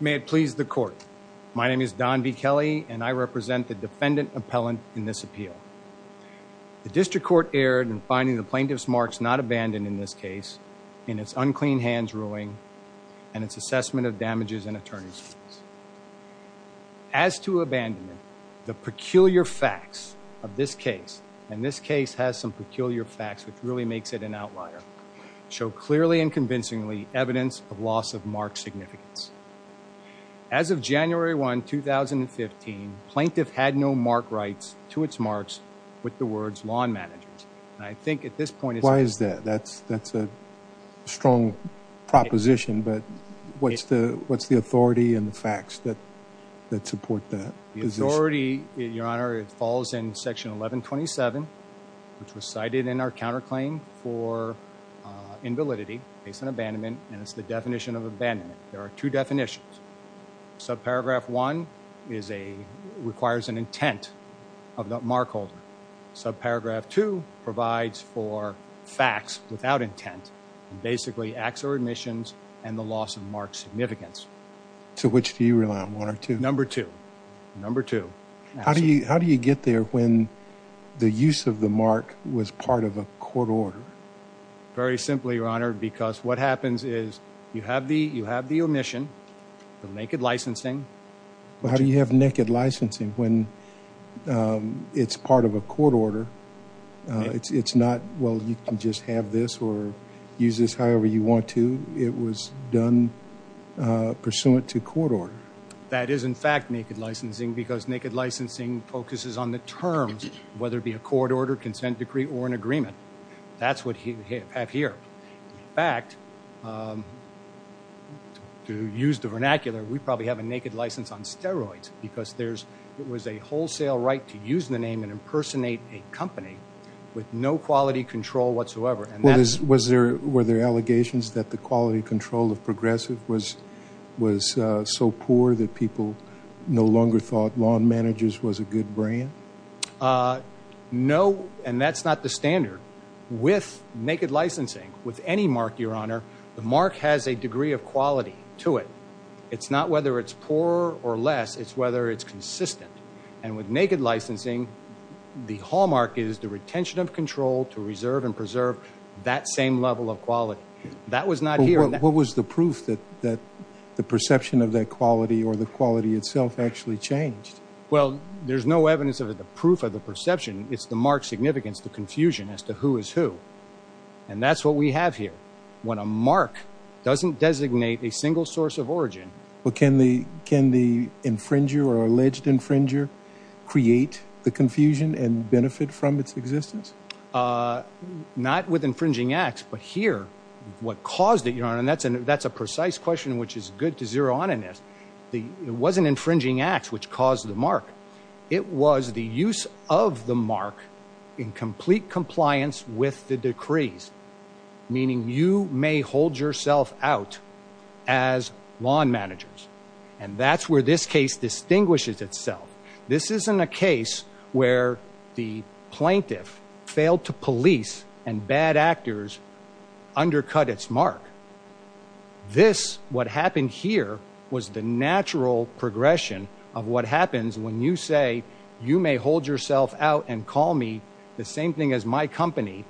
May it please the court, my name is Don B. Kelly and I represent the defendant appellant in this appeal. The district court erred in finding the plaintiff's marks not abandoned in this case, in its unclean hands ruling, and its assessment of damages and attorney's fees. As to abandonment, the peculiar facts of this case, and this case has some peculiar facts which really makes it an outlier, show clearly and convincingly evidence of loss of mark significance. As of January 1, 2015, plaintiff had no mark rights to its marks with the words Lawn Managers, and I think at this point... Why is that? That's a strong proposition, but what's the authority and the facts that support that position? The authority, Your Honor, it falls in section 1127, which was cited in our counterclaim for invalidity based on abandonment, and it's the definition of abandonment. There are two definitions. Subparagraph one is a... requires an intent of the mark holder. Subparagraph two provides for facts without intent, and basically acts or admissions and the loss of mark significance. So which do you rely on, one or two? Number two. Number two. How do you get there when the use of the Very simply, Your Honor, because what happens is you have the omission, the naked licensing... How do you have naked licensing when it's part of a court order? It's not, well, you can just have this or use this however you want to. It was done pursuant to court order. That is in fact naked licensing because naked licensing focuses on the terms, whether it be a court order, consent decree, or an agreement. That's what you have here. In fact, to use the vernacular, we probably have a naked license on steroids because there's... it was a wholesale right to use the name and impersonate a company with no quality control whatsoever. And that's... Were there allegations that the quality control of Progressive was so poor that people no longer thought managers was a good brand? No, and that's not the standard. With naked licensing, with any mark, Your Honor, the mark has a degree of quality to it. It's not whether it's poor or less. It's whether it's consistent. And with naked licensing, the hallmark is the retention of control to reserve and preserve that same level of quality. That was not here. What was the proof that the quality itself actually changed? Well, there's no evidence of it. The proof of the perception, it's the mark's significance to confusion as to who is who. And that's what we have here. When a mark doesn't designate a single source of origin... But can the... can the infringer or alleged infringer create the confusion and benefit from its existence? Not with infringing acts, but here, what caused it, Your Honor, and that's a precise question which is good to know. It wasn't infringing acts which caused the mark. It was the use of the mark in complete compliance with the decrees, meaning you may hold yourself out as lawn managers. And that's where this case distinguishes itself. This isn't a case where the plaintiff failed to police and bad actors undercut its mark. This, what happened here, was the natural progression of what happens when you say, you may hold yourself out and call me the same thing as my company,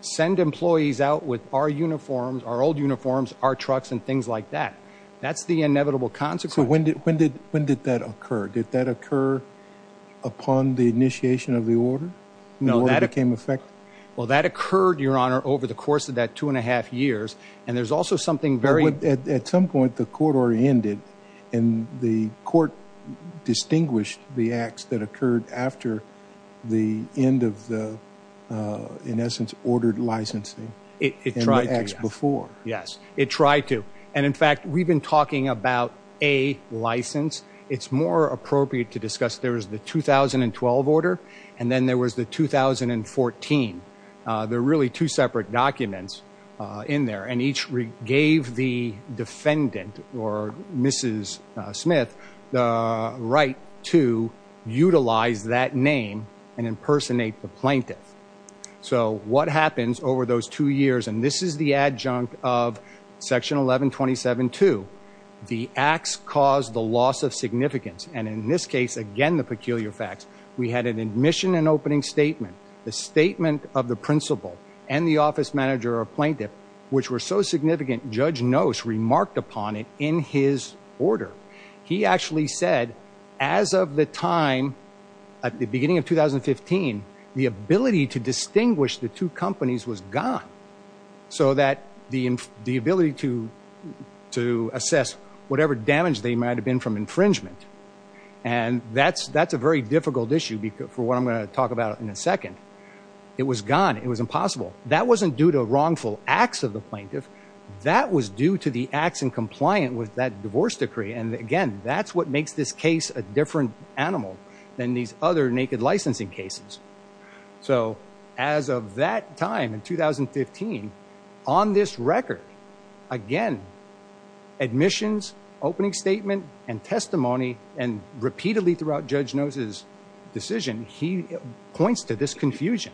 send employees out with our uniforms, our old uniforms, our trucks, and things like that. That's the inevitable consequence. So when did... when did... when did that occur? Did that occur upon the initiation of the order? When the order became effective? Well, that occurred, Your Honor, over the course of that two and a half years. And there's also something very... At some point, the court oriented, and the court distinguished the acts that occurred after the end of the, in essence, ordered licensing. It tried to. And the acts before. Yes, it tried to. And in fact, we've been talking about a license. It's more appropriate to discuss there was the 2012 order, and then there was the 2014. They're really two separate documents in there. And each gave the defendant, or Mrs. Smith, the right to utilize that name and impersonate the plaintiff. So what happens over those two years, and this is the adjunct of Section 1127-2, the acts caused the loss of significance. And in this case, again, the peculiar facts. We had an admission and office manager or plaintiff, which were so significant, Judge Nose remarked upon it in his order. He actually said, as of the time, at the beginning of 2015, the ability to distinguish the two companies was gone. So that the ability to assess whatever damage they might have been from infringement. And that's a very difficult issue, for what I'm going to talk about in a second. It was gone. It was impossible. That wasn't due to wrongful acts of the plaintiff. That was due to the acts in compliant with that divorce decree. And again, that's what makes this case a different animal than these other naked licensing cases. So as of that time, in 2015, on this record, again, admissions, opening statement, and testimony, and repeatedly throughout Judge Nose's decision, he points to this consumers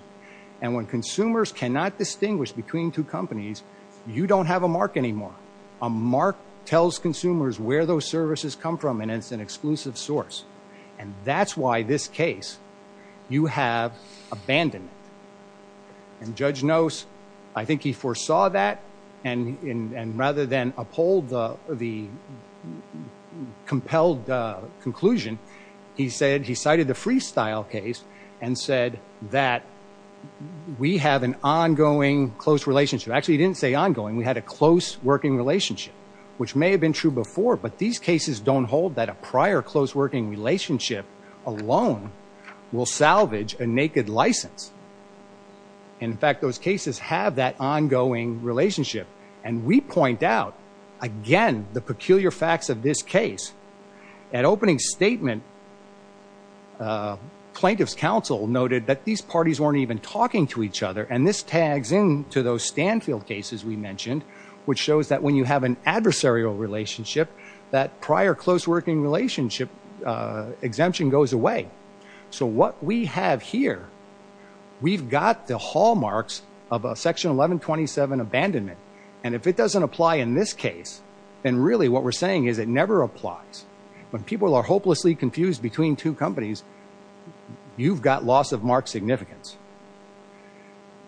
cannot distinguish between two companies. You don't have a mark anymore. A mark tells consumers where those services come from, and it's an exclusive source. And that's why this case, you have abandonment. And Judge Nose, I think he foresaw that, and rather than uphold the compelled conclusion, he cited the Freestyle case and said that we have an ongoing close relationship. Actually, he didn't say ongoing. We had a close working relationship, which may have been true before. But these cases don't hold that a prior close working relationship alone will salvage a naked license. In fact, those cases have that ongoing relationship. And we point out, again, the peculiar facts of this case. At the opening statement, plaintiff's counsel noted that these parties weren't even talking to each other. And this tags in to those Stanfield cases we mentioned, which shows that when you have an adversarial relationship, that prior close working relationship exemption goes away. So what we have here, we've got the hallmarks of a section 1127 abandonment. And if it doesn't apply in this case, then really what we're saying is it never applies. When people are hopelessly confused between two companies, you've got loss of mark significance.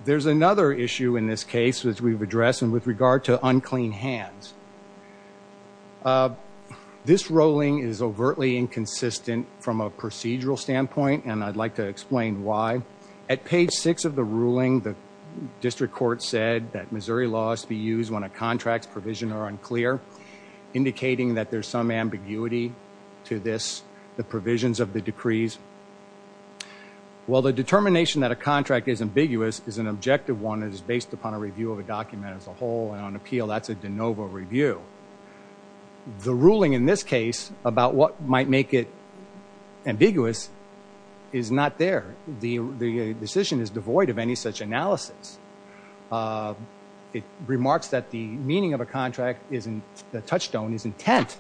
There's another issue in this case, which we've addressed, and with regard to unclean hands. This ruling is overtly inconsistent from a procedural standpoint, and I'd like to explain why. At page six of the ruling, the district court said that Missouri laws be used when a contract's provision are unclear, indicating that there's some ambiguity to this, the provisions of the decrees. Well, the determination that a contract is ambiguous is an objective one that is based upon a review of a document as a whole, and on appeal, that's a de novo review. The ruling in this case about what might make it ambiguous is not there. The decision is devoid of any such analysis. It remarks that the meaning of a contract is in the touchstone is intent,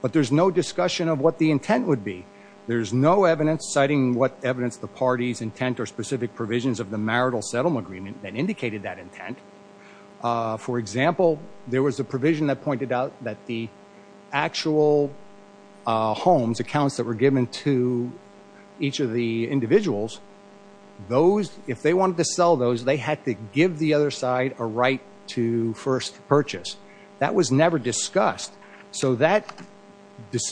but there's no discussion of what the intent would be. There's no evidence citing what evidence the party's intent or specific provisions of the marital settlement agreement that indicated that intent. For example, there was a provision that pointed out that the actual homes, accounts that were given to each of the individuals, those, if they wanted to sell those, they had to give the other side a right to first purchase. That was never discussed. So that,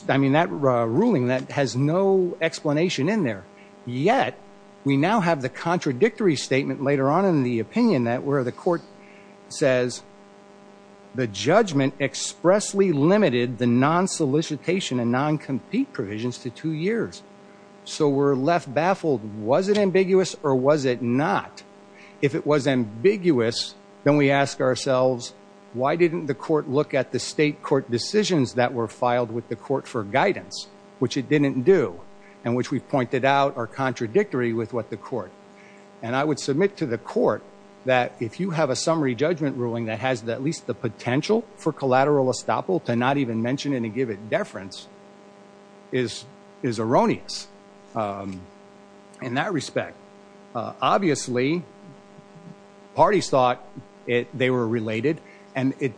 I mean, that ruling, that has no explanation in there. Yet, we now have the contradictory statement later on in the opinion that where the court says the judgment expressly limited the non-solicitation and non-compete provisions to two years. So we're left baffled. Was it ambiguous or was it not? If it was ambiguous, then we ask ourselves, why didn't the court look at the state court decisions that were filed with the court for guidance, which it didn't do, and which we've pointed out are contradictory with what the court. And I would submit to the court that if you have a summary judgment ruling that has at least the potential for collateral estoppel to not even mention it and give it deference is erroneous in that respect. Obviously, parties thought it, they were related and it,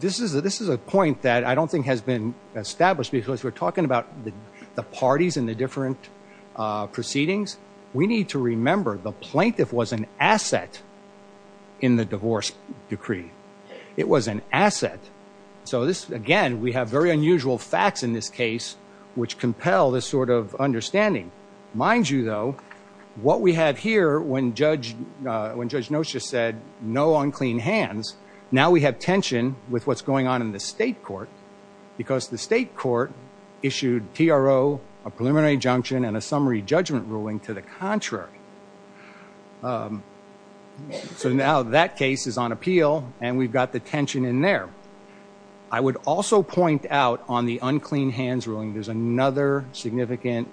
this is, this is a point that I don't think has been established because we're talking about the parties and the different proceedings. We need to remember the plaintiff was an asset in the divorce decree. It was an asset. So this, again, we have very unusual facts in this case which compel this sort of understanding. Mind you though, what we had here when Judge, when Judge Nosha said no unclean hands, now we have tension with what's going on in the state court because the state court issued TRO, a preliminary injunction, and a summary judgment ruling to the contrary. So now that case is on appeal and we've got the tension in there. I would also point out on the unclean hands ruling, there's another significant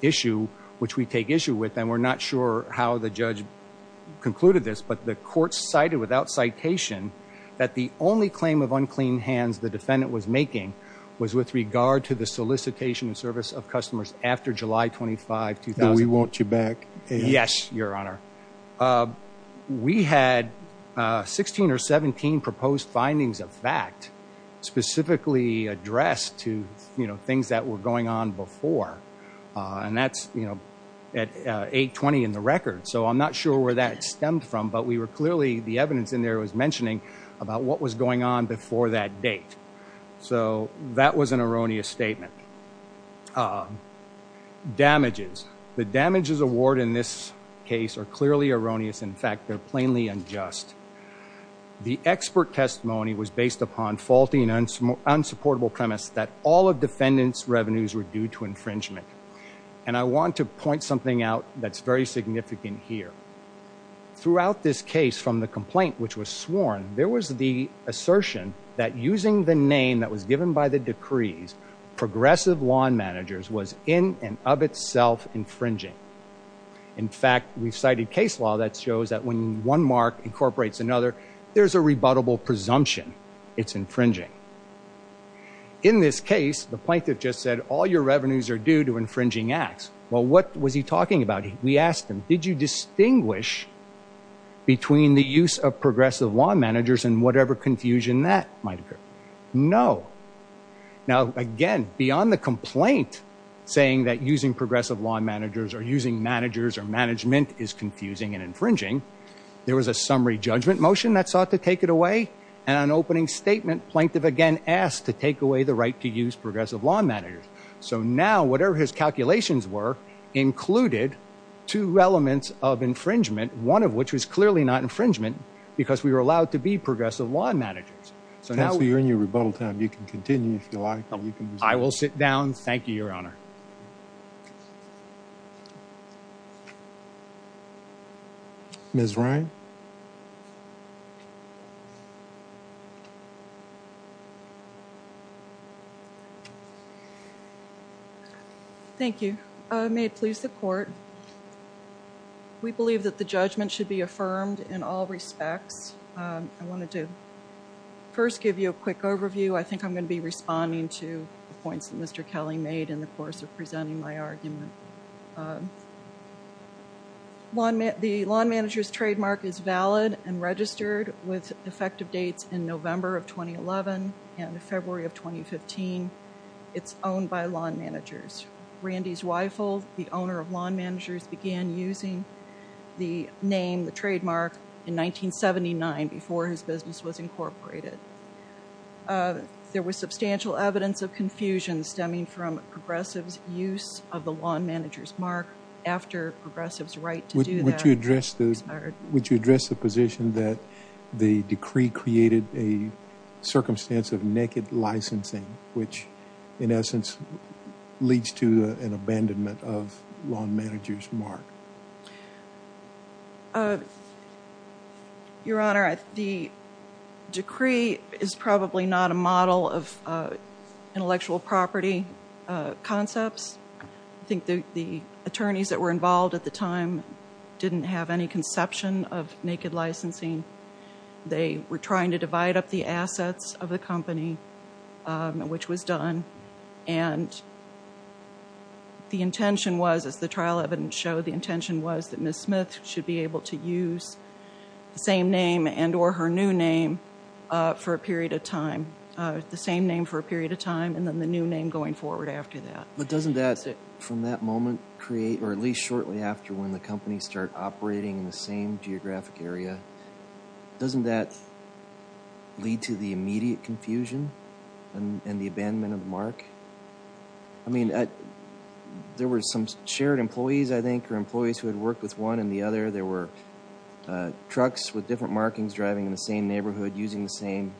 issue which we take issue with and we're not sure how the judge concluded this, but the court cited without citation that the only claim of unclean hands the defendant was making was with regard to the solicitation of service of customers after July 25, 2000. We want you back. Yes, Your Honor. We had 16 or 17 proposed findings of fact specifically addressed to, you know, things that were going on before and that's, you know, at 820 in the record. So I'm not sure where that stemmed from, but we were clearly, the evidence in there was mentioning about what was going on The damages award in this case are clearly erroneous. In fact, they're plainly unjust. The expert testimony was based upon faulty and unsupportable premise that all of defendants revenues were due to infringement and I want to point something out that's very significant here. Throughout this case from the complaint which was sworn, there was the assertion that using the name that was given by the decrees, progressive lawn managers was in and of itself infringing. In fact, we've cited case law that shows that when one mark incorporates another, there's a rebuttable presumption it's infringing. In this case, the plaintiff just said all your revenues are due to infringing acts. Well, what was he talking about? We asked him, did you distinguish between the use of progressive lawn managers and whatever confusion that might occur? No. Now again, beyond the complaint saying that using progressive lawn managers or using managers or management is confusing and infringing, there was a summary judgment motion that sought to take it away and an opening statement plaintiff again asked to take away the right to use progressive lawn managers. So now, whatever his calculations were, included two elements of infringement, one of which was clearly not infringement because we were allowed to be progressive lawn managers. Counselor, you're in your rebuttal time. You can continue if you'd like. I will sit down. Thank you, Your Honor. Ms. Ryan. Thank you. May it please the court. We believe that the judgment should be I wanted to first give you a quick overview. I think I'm going to be responding to the points that Mr. Kelly made in the course of presenting my argument. The lawn managers trademark is valid and registered with effective dates in November of 2011 and February of 2015. It's owned by lawn managers. Randy Zweifel, the owner of lawn managers, began using the name, the business was incorporated. There was substantial evidence of confusion stemming from progressives use of the lawn managers mark after progressives right to do that. Would you address the position that the decree created a circumstance of naked licensing, which in essence leads to an Decree is probably not a model of intellectual property concepts. I think the attorneys that were involved at the time didn't have any conception of naked licensing. They were trying to divide up the assets of the company, which was done and the intention was, as the trial evidence showed, the intention was that her new name for a period of time, the same name for a period of time, and then the new name going forward after that. But doesn't that, from that moment, create or at least shortly after when the company start operating in the same geographic area, doesn't that lead to the immediate confusion and the abandonment of mark? I mean, there were some shared employees, I think, or employees who had worked with one and the other. There were trucks with the same name in the same neighborhood using the same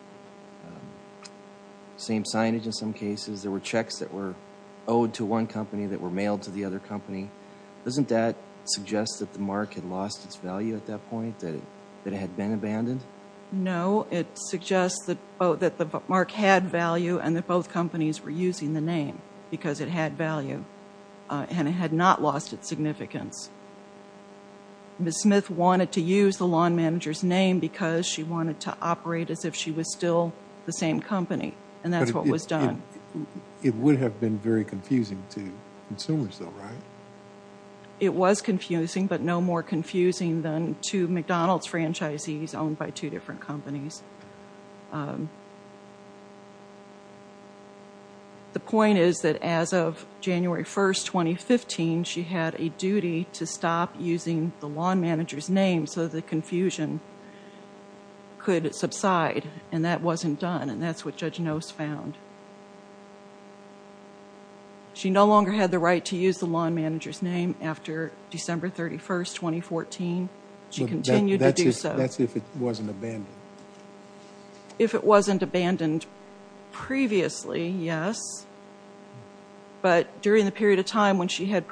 signage in some cases. There were checks that were owed to one company that were mailed to the other company. Doesn't that suggest that the mark had lost its value at that point? That it had been abandoned? No, it suggests that both that the mark had value and that both companies were using the name because it had value and it had not lost its significance. Ms. Smith wanted to use the lawn managers name because she wanted to operate as if she was still the same company and that's what was done. It would have been very confusing to consumers though, right? It was confusing, but no more confusing than two McDonald's franchisees owned by two different companies. The point is that as of January 1st, 2015, she had a duty to name so the confusion could subside and that wasn't done and that's what Judge Nose found. She no longer had the right to use the lawn manager's name after December 31st, 2014. She continued to do so. That's if it wasn't abandoned? If it wasn't abandoned previously, yes, but during the period of time when she had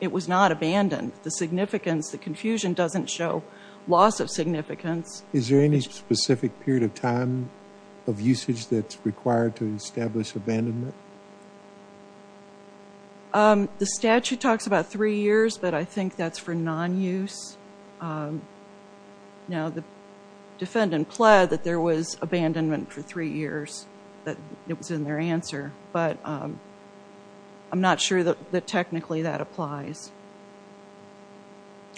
it was not abandoned. The significance, the confusion doesn't show loss of significance. Is there any specific period of time of usage that's required to establish abandonment? The statute talks about three years, but I think that's for non-use. Now the defendant pled that there was abandonment for three years, that it was in their answer, but I'm not sure that technically that applies.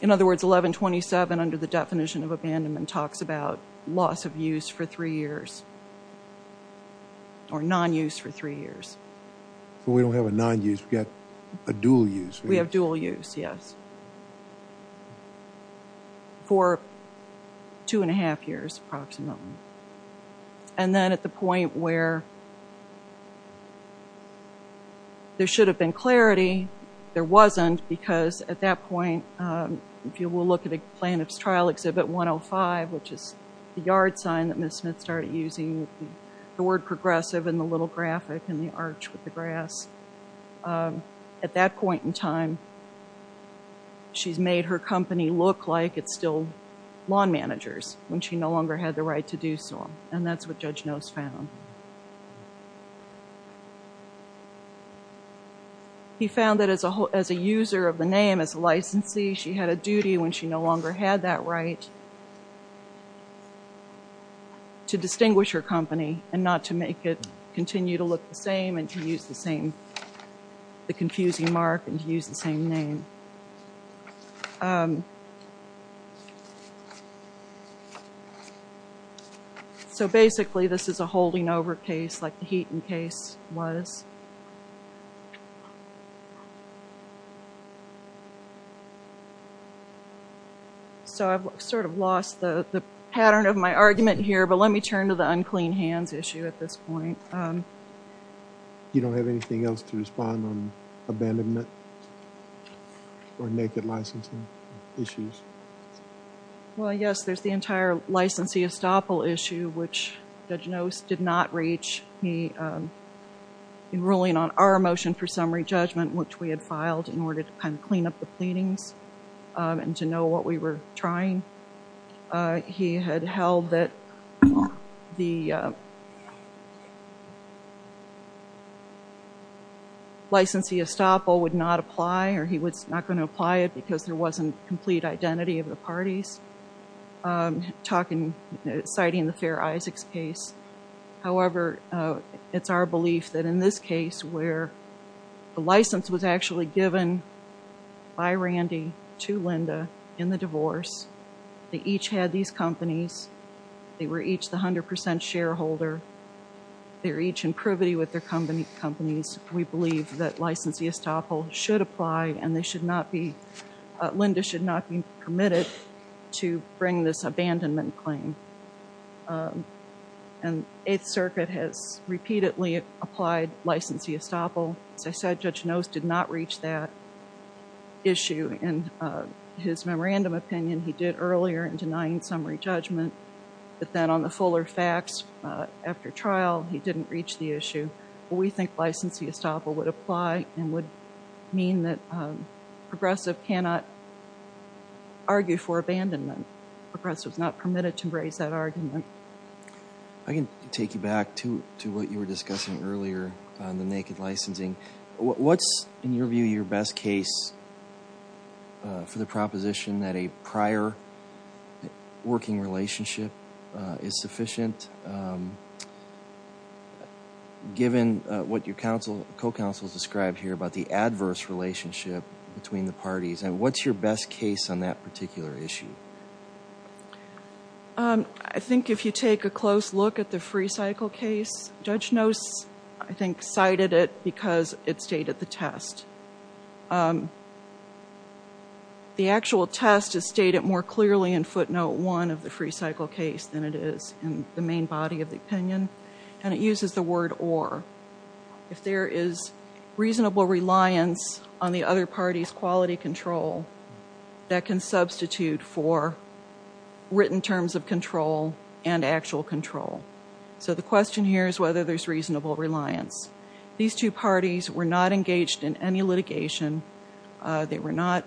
In other words, 1127 under the definition of abandonment talks about loss of use for three years or non-use for three years. So we don't have a non-use, we've got a dual use. We have dual use, yes, for two and a half years approximately and then at the point where there should have been clarity, there wasn't because at that point, if you will look at the plaintiff's trial exhibit 105, which is the yard sign that Ms. Smith started using, the word progressive in the little graphic and the arch with the grass. At that point in time, she's made her company look like it's still lawn managers when she no longer had the right to do so and that's what Judge Nose found. He found that as a user of the name, as a licensee, she had a duty when she no longer had that right to distinguish her company and not to make it continue to look the same and to use the same, the confusing mark and to use the same name. So basically, this is a holding over case like the Heaton case was. So I've sort of lost the pattern of my argument here, but let me turn to the unclean hands issue at this point. You don't have anything else to respond on or naked licensing issues? Well, yes, there's the entire licensee estoppel issue, which Judge Nose did not reach. He, in ruling on our motion for summary judgment, which we had filed in order to kind of clean up the pleadings and to know what we were trying, he had held that the licensee estoppel would not apply or he was not going to apply it because there wasn't complete identity of the parties, citing the Fair Isaacs case. However, it's our belief that in this case where the license was actually given by Randy to Linda in the divorce, they each had these companies. They were each the 100% shareholder. They were each in privity with their companies. We believe that licensee estoppel should apply and Linda should not be committed to bring this abandonment claim. And Eighth Circuit has repeatedly applied licensee estoppel. As I said, Judge Nose did not reach that issue. In his memorandum opinion, he did earlier in denying summary judgment, but then on the fuller facts after trial, he didn't reach the issue. We think licensee estoppel would apply and would mean that progressive cannot argue for abandonment. Progressive is not permitted to raise that argument. I can take you back to what you were discussing earlier on the naked licensing. What's, in your view, your best case for the proposition that a prior working relationship is sufficient given what your co-counsel described here about the adverse relationship between the parties? And what's your best case on that particular issue? I think if you take a close look at the Free Cycle case, Judge Nose I think cited it because it stated the test. The actual test is stated more clearly in footnote one of the Free Cycle case than it is in the main body of the opinion and it uses the word or. If there is reasonable reliance on the other party's quality control, that can substitute for written terms of control and actual control. So the question here is whether there's reasonable reliance. These two parties were not engaged in any litigation. They were not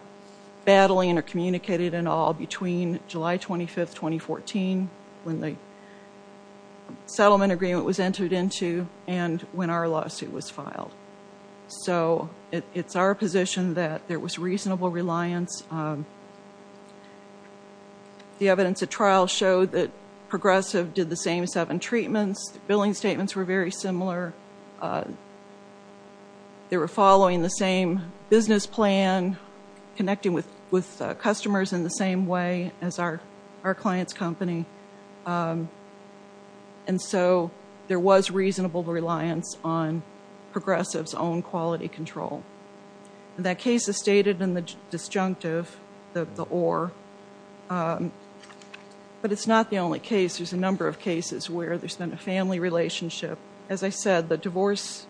battling or communicated at all between July 25, 2014 when the settlement agreement was met. There was reasonable reliance. The evidence at trial showed that Progressive did the same seven treatments. The billing statements were very similar. They were following the same business plan, connecting with customers in the same way as our client's company. And so there was a stated and the disjunctive, the or. But it's not the only case. There's a number of cases where there's been a family relationship. As I said, the divorce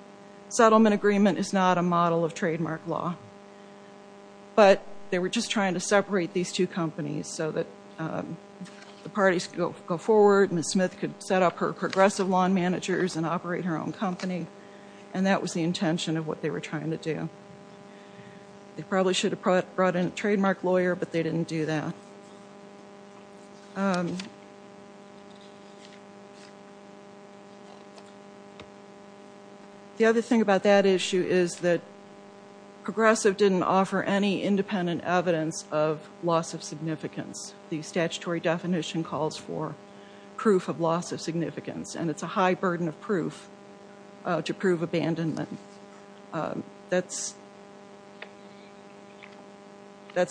settlement agreement is not a model of trademark law. But they were just trying to separate these two companies so that the parties could go forward. Ms. Smith could set up her Progressive lawn managers and operate her own company. And that was the intention of what they were trying to do. They probably should have brought in a trademark lawyer, but they didn't do that. The other thing about that issue is that Progressive didn't offer any independent evidence of loss of significance. The statutory definition calls for proof of loss of significance. And it's a high burden of proof to prove abandonment. That's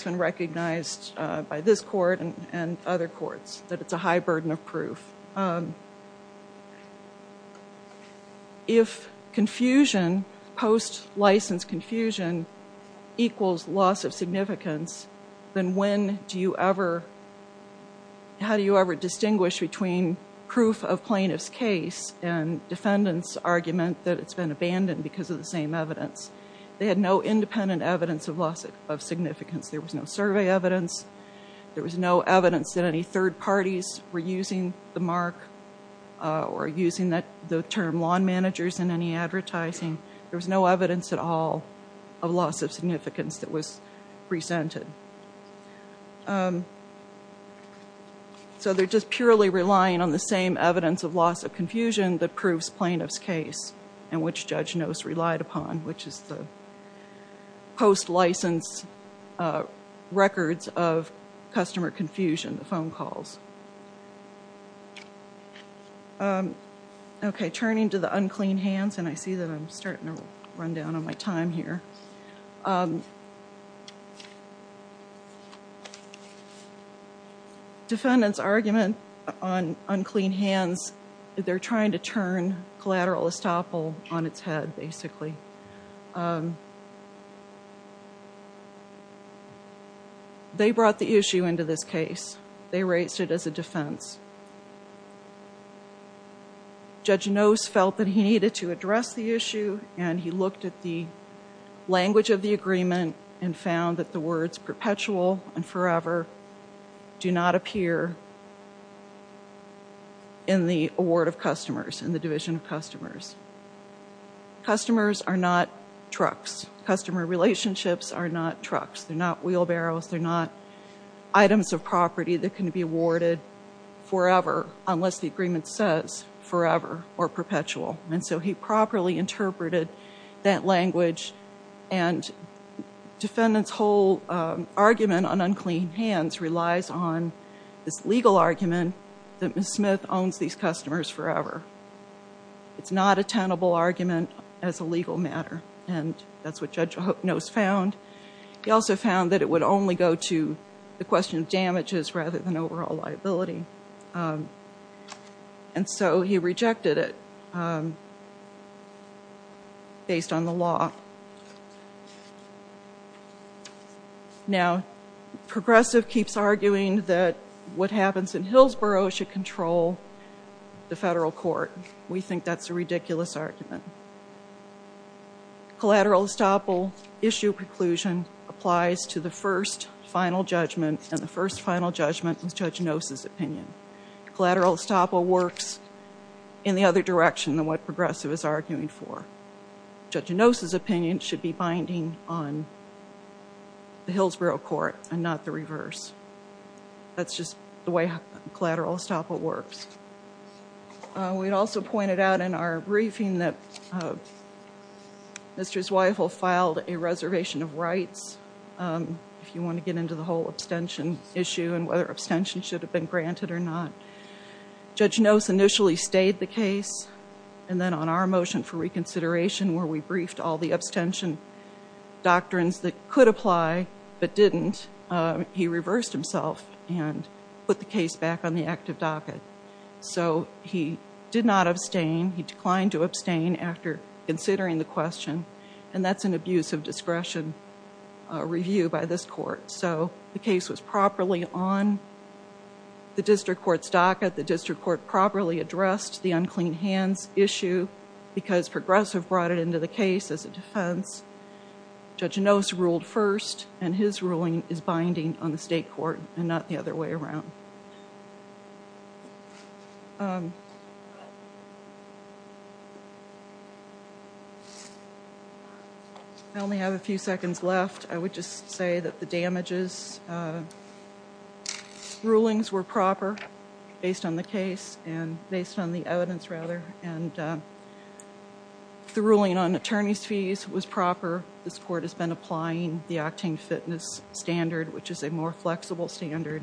been recognized by this court and other courts, that it's a high burden of proof. If confusion, post-license confusion, equals loss of significance, how do you ever distinguish between proof of plaintiff's case and defendants' argument that it's been abandoned because of the same evidence? They had no independent evidence of loss of significance. There was no survey evidence. There was no evidence that any third parties were using the mark or using the term lawn managers in any advertising. There was no evidence at all of loss of significance that was presented. So they're just purely relying on the same evidence of loss of confusion that proves plaintiff's case, and which judge knows relied upon, which is the post-license records of customer confusion, the phone calls. Okay, turning to the unclean hands, and I see that I'm starting to run down on my time here. Defendants' argument on unclean hands, they're trying to turn collateral estoppel on its head, basically. They brought the issue into this case. They raised it as a defense. Judge Knost felt that he needed to address the issue, and he looked at the language of the agreement and found that the words perpetual and forever do not appear in the award of customers, in the division of customers. Customers are not trucks. Customer relationships are not trucks. They're not wheelbarrows. They're not items of property that can be awarded forever, unless the agreement says forever or perpetual. And so he properly interpreted that language. And defendant's whole argument on unclean hands relies on this legal argument that Ms. Smith owns these customers forever. It's not a tenable argument as a legal matter, and that's what Judge Knost found. He also found that it would only go to the question of damages rather than overall liability. And so he rejected it based on the law. Now, Progressive keeps arguing that what happens in Hillsboro should control the federal court. We think that's a ridiculous argument. Collateral estoppel issue preclusion applies to the first final judgment, and the first final judgment is Judge Knost's opinion. Collateral estoppel works in the other direction than what Progressive is arguing for. Judge Knost's opinion should be binding on the Hillsboro court and not the reverse. That's just the way collateral estoppel works. We also pointed out in our briefing that Mr. Zweifel filed a reservation of rights, if you want to get into the whole abstention issue and whether abstention should have been granted or not. Judge Knost initially stayed the case, and then on our motion for reconsideration, where we briefed all the abstention doctrines that could apply but didn't, he reversed himself and put the case back on the active docket. So he did not abstain. He declined to abstain after considering the question, and that's an abuse of discretion review by this court. So the case was properly on the district court's docket. The district court properly addressed the unclean hands issue because Progressive brought it into the case as a defense. Judge Knost ruled first, and his ruling is binding on the state court and not the other way around. I only have a few seconds left. I would just say that the damages rulings were proper based on the case and based on the evidence, rather, and the ruling on the acting fitness standard, which is a more flexible standard,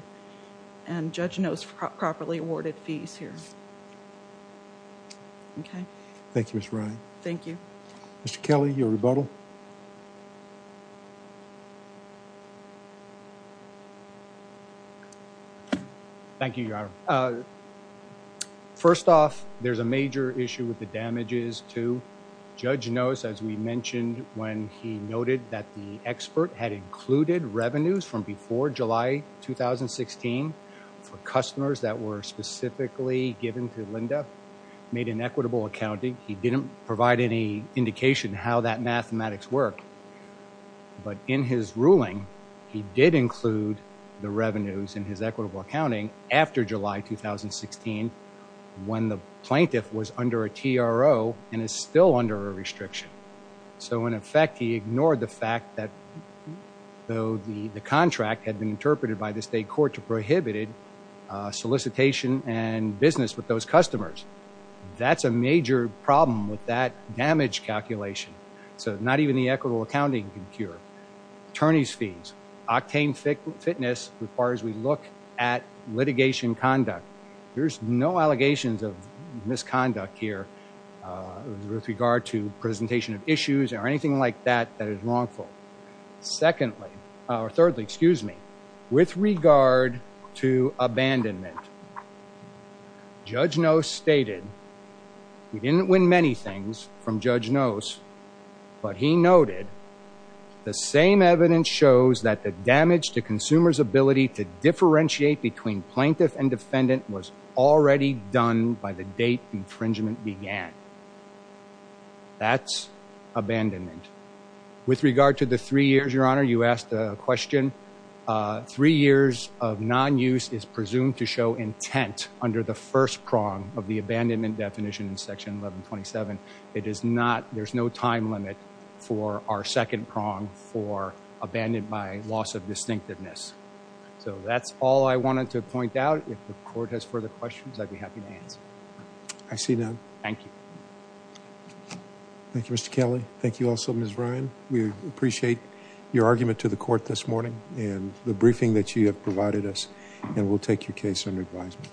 and Judge Knost properly awarded fees here. Okay. Thank you, Ms. Ryan. Thank you. Mr. Kelly, your rebuttal. Thank you, Your Honor. First off, there's a major issue with the damages, too. Judge Knost, as we mentioned when he noted that the expert had included revenues from before July 2016 for customers that were specifically given to Linda, made an equitable accounting. He didn't provide any indication how that mathematics worked, but in his ruling, he did include the revenues in his equitable accounting after July 2016 when the plaintiff was under a TRO and is still under a restriction. So, in effect, he ignored the fact that though the contract had been interpreted by the state court to prohibited solicitation and business with those customers. That's a major problem with that damage calculation. So, not even the equitable accounting can cure. Attorney's fees. Octane fitness requires we look at litigation conduct. There's no allegations of misconduct here with regard to presentation of issues or anything like that that is wrongful. Secondly, or thirdly, excuse me, with regard to abandonment, Judge Knost stated, he didn't win many things from Judge Knost, but he noted the same evidence shows that the damage to consumers ability to differentiate between plaintiff and defendant was already done by the date infringement began. That's abandonment. With regard to the three years, your honor, you asked a question. Three years of non-use is presumed to show intent under the first prong of the abandonment definition in section 1127. It is not, there's no time limit for our second prong for abandoned by loss of distinctiveness. So, that's all I wanted to point out. If the court has further questions, I'd be happy to answer. I see none. Thank you. Thank you, Mr. Kelly. Thank you also, Ms. Ryan. We appreciate your argument to the court this morning and the briefing that you have provided us and we'll take your case under advisement.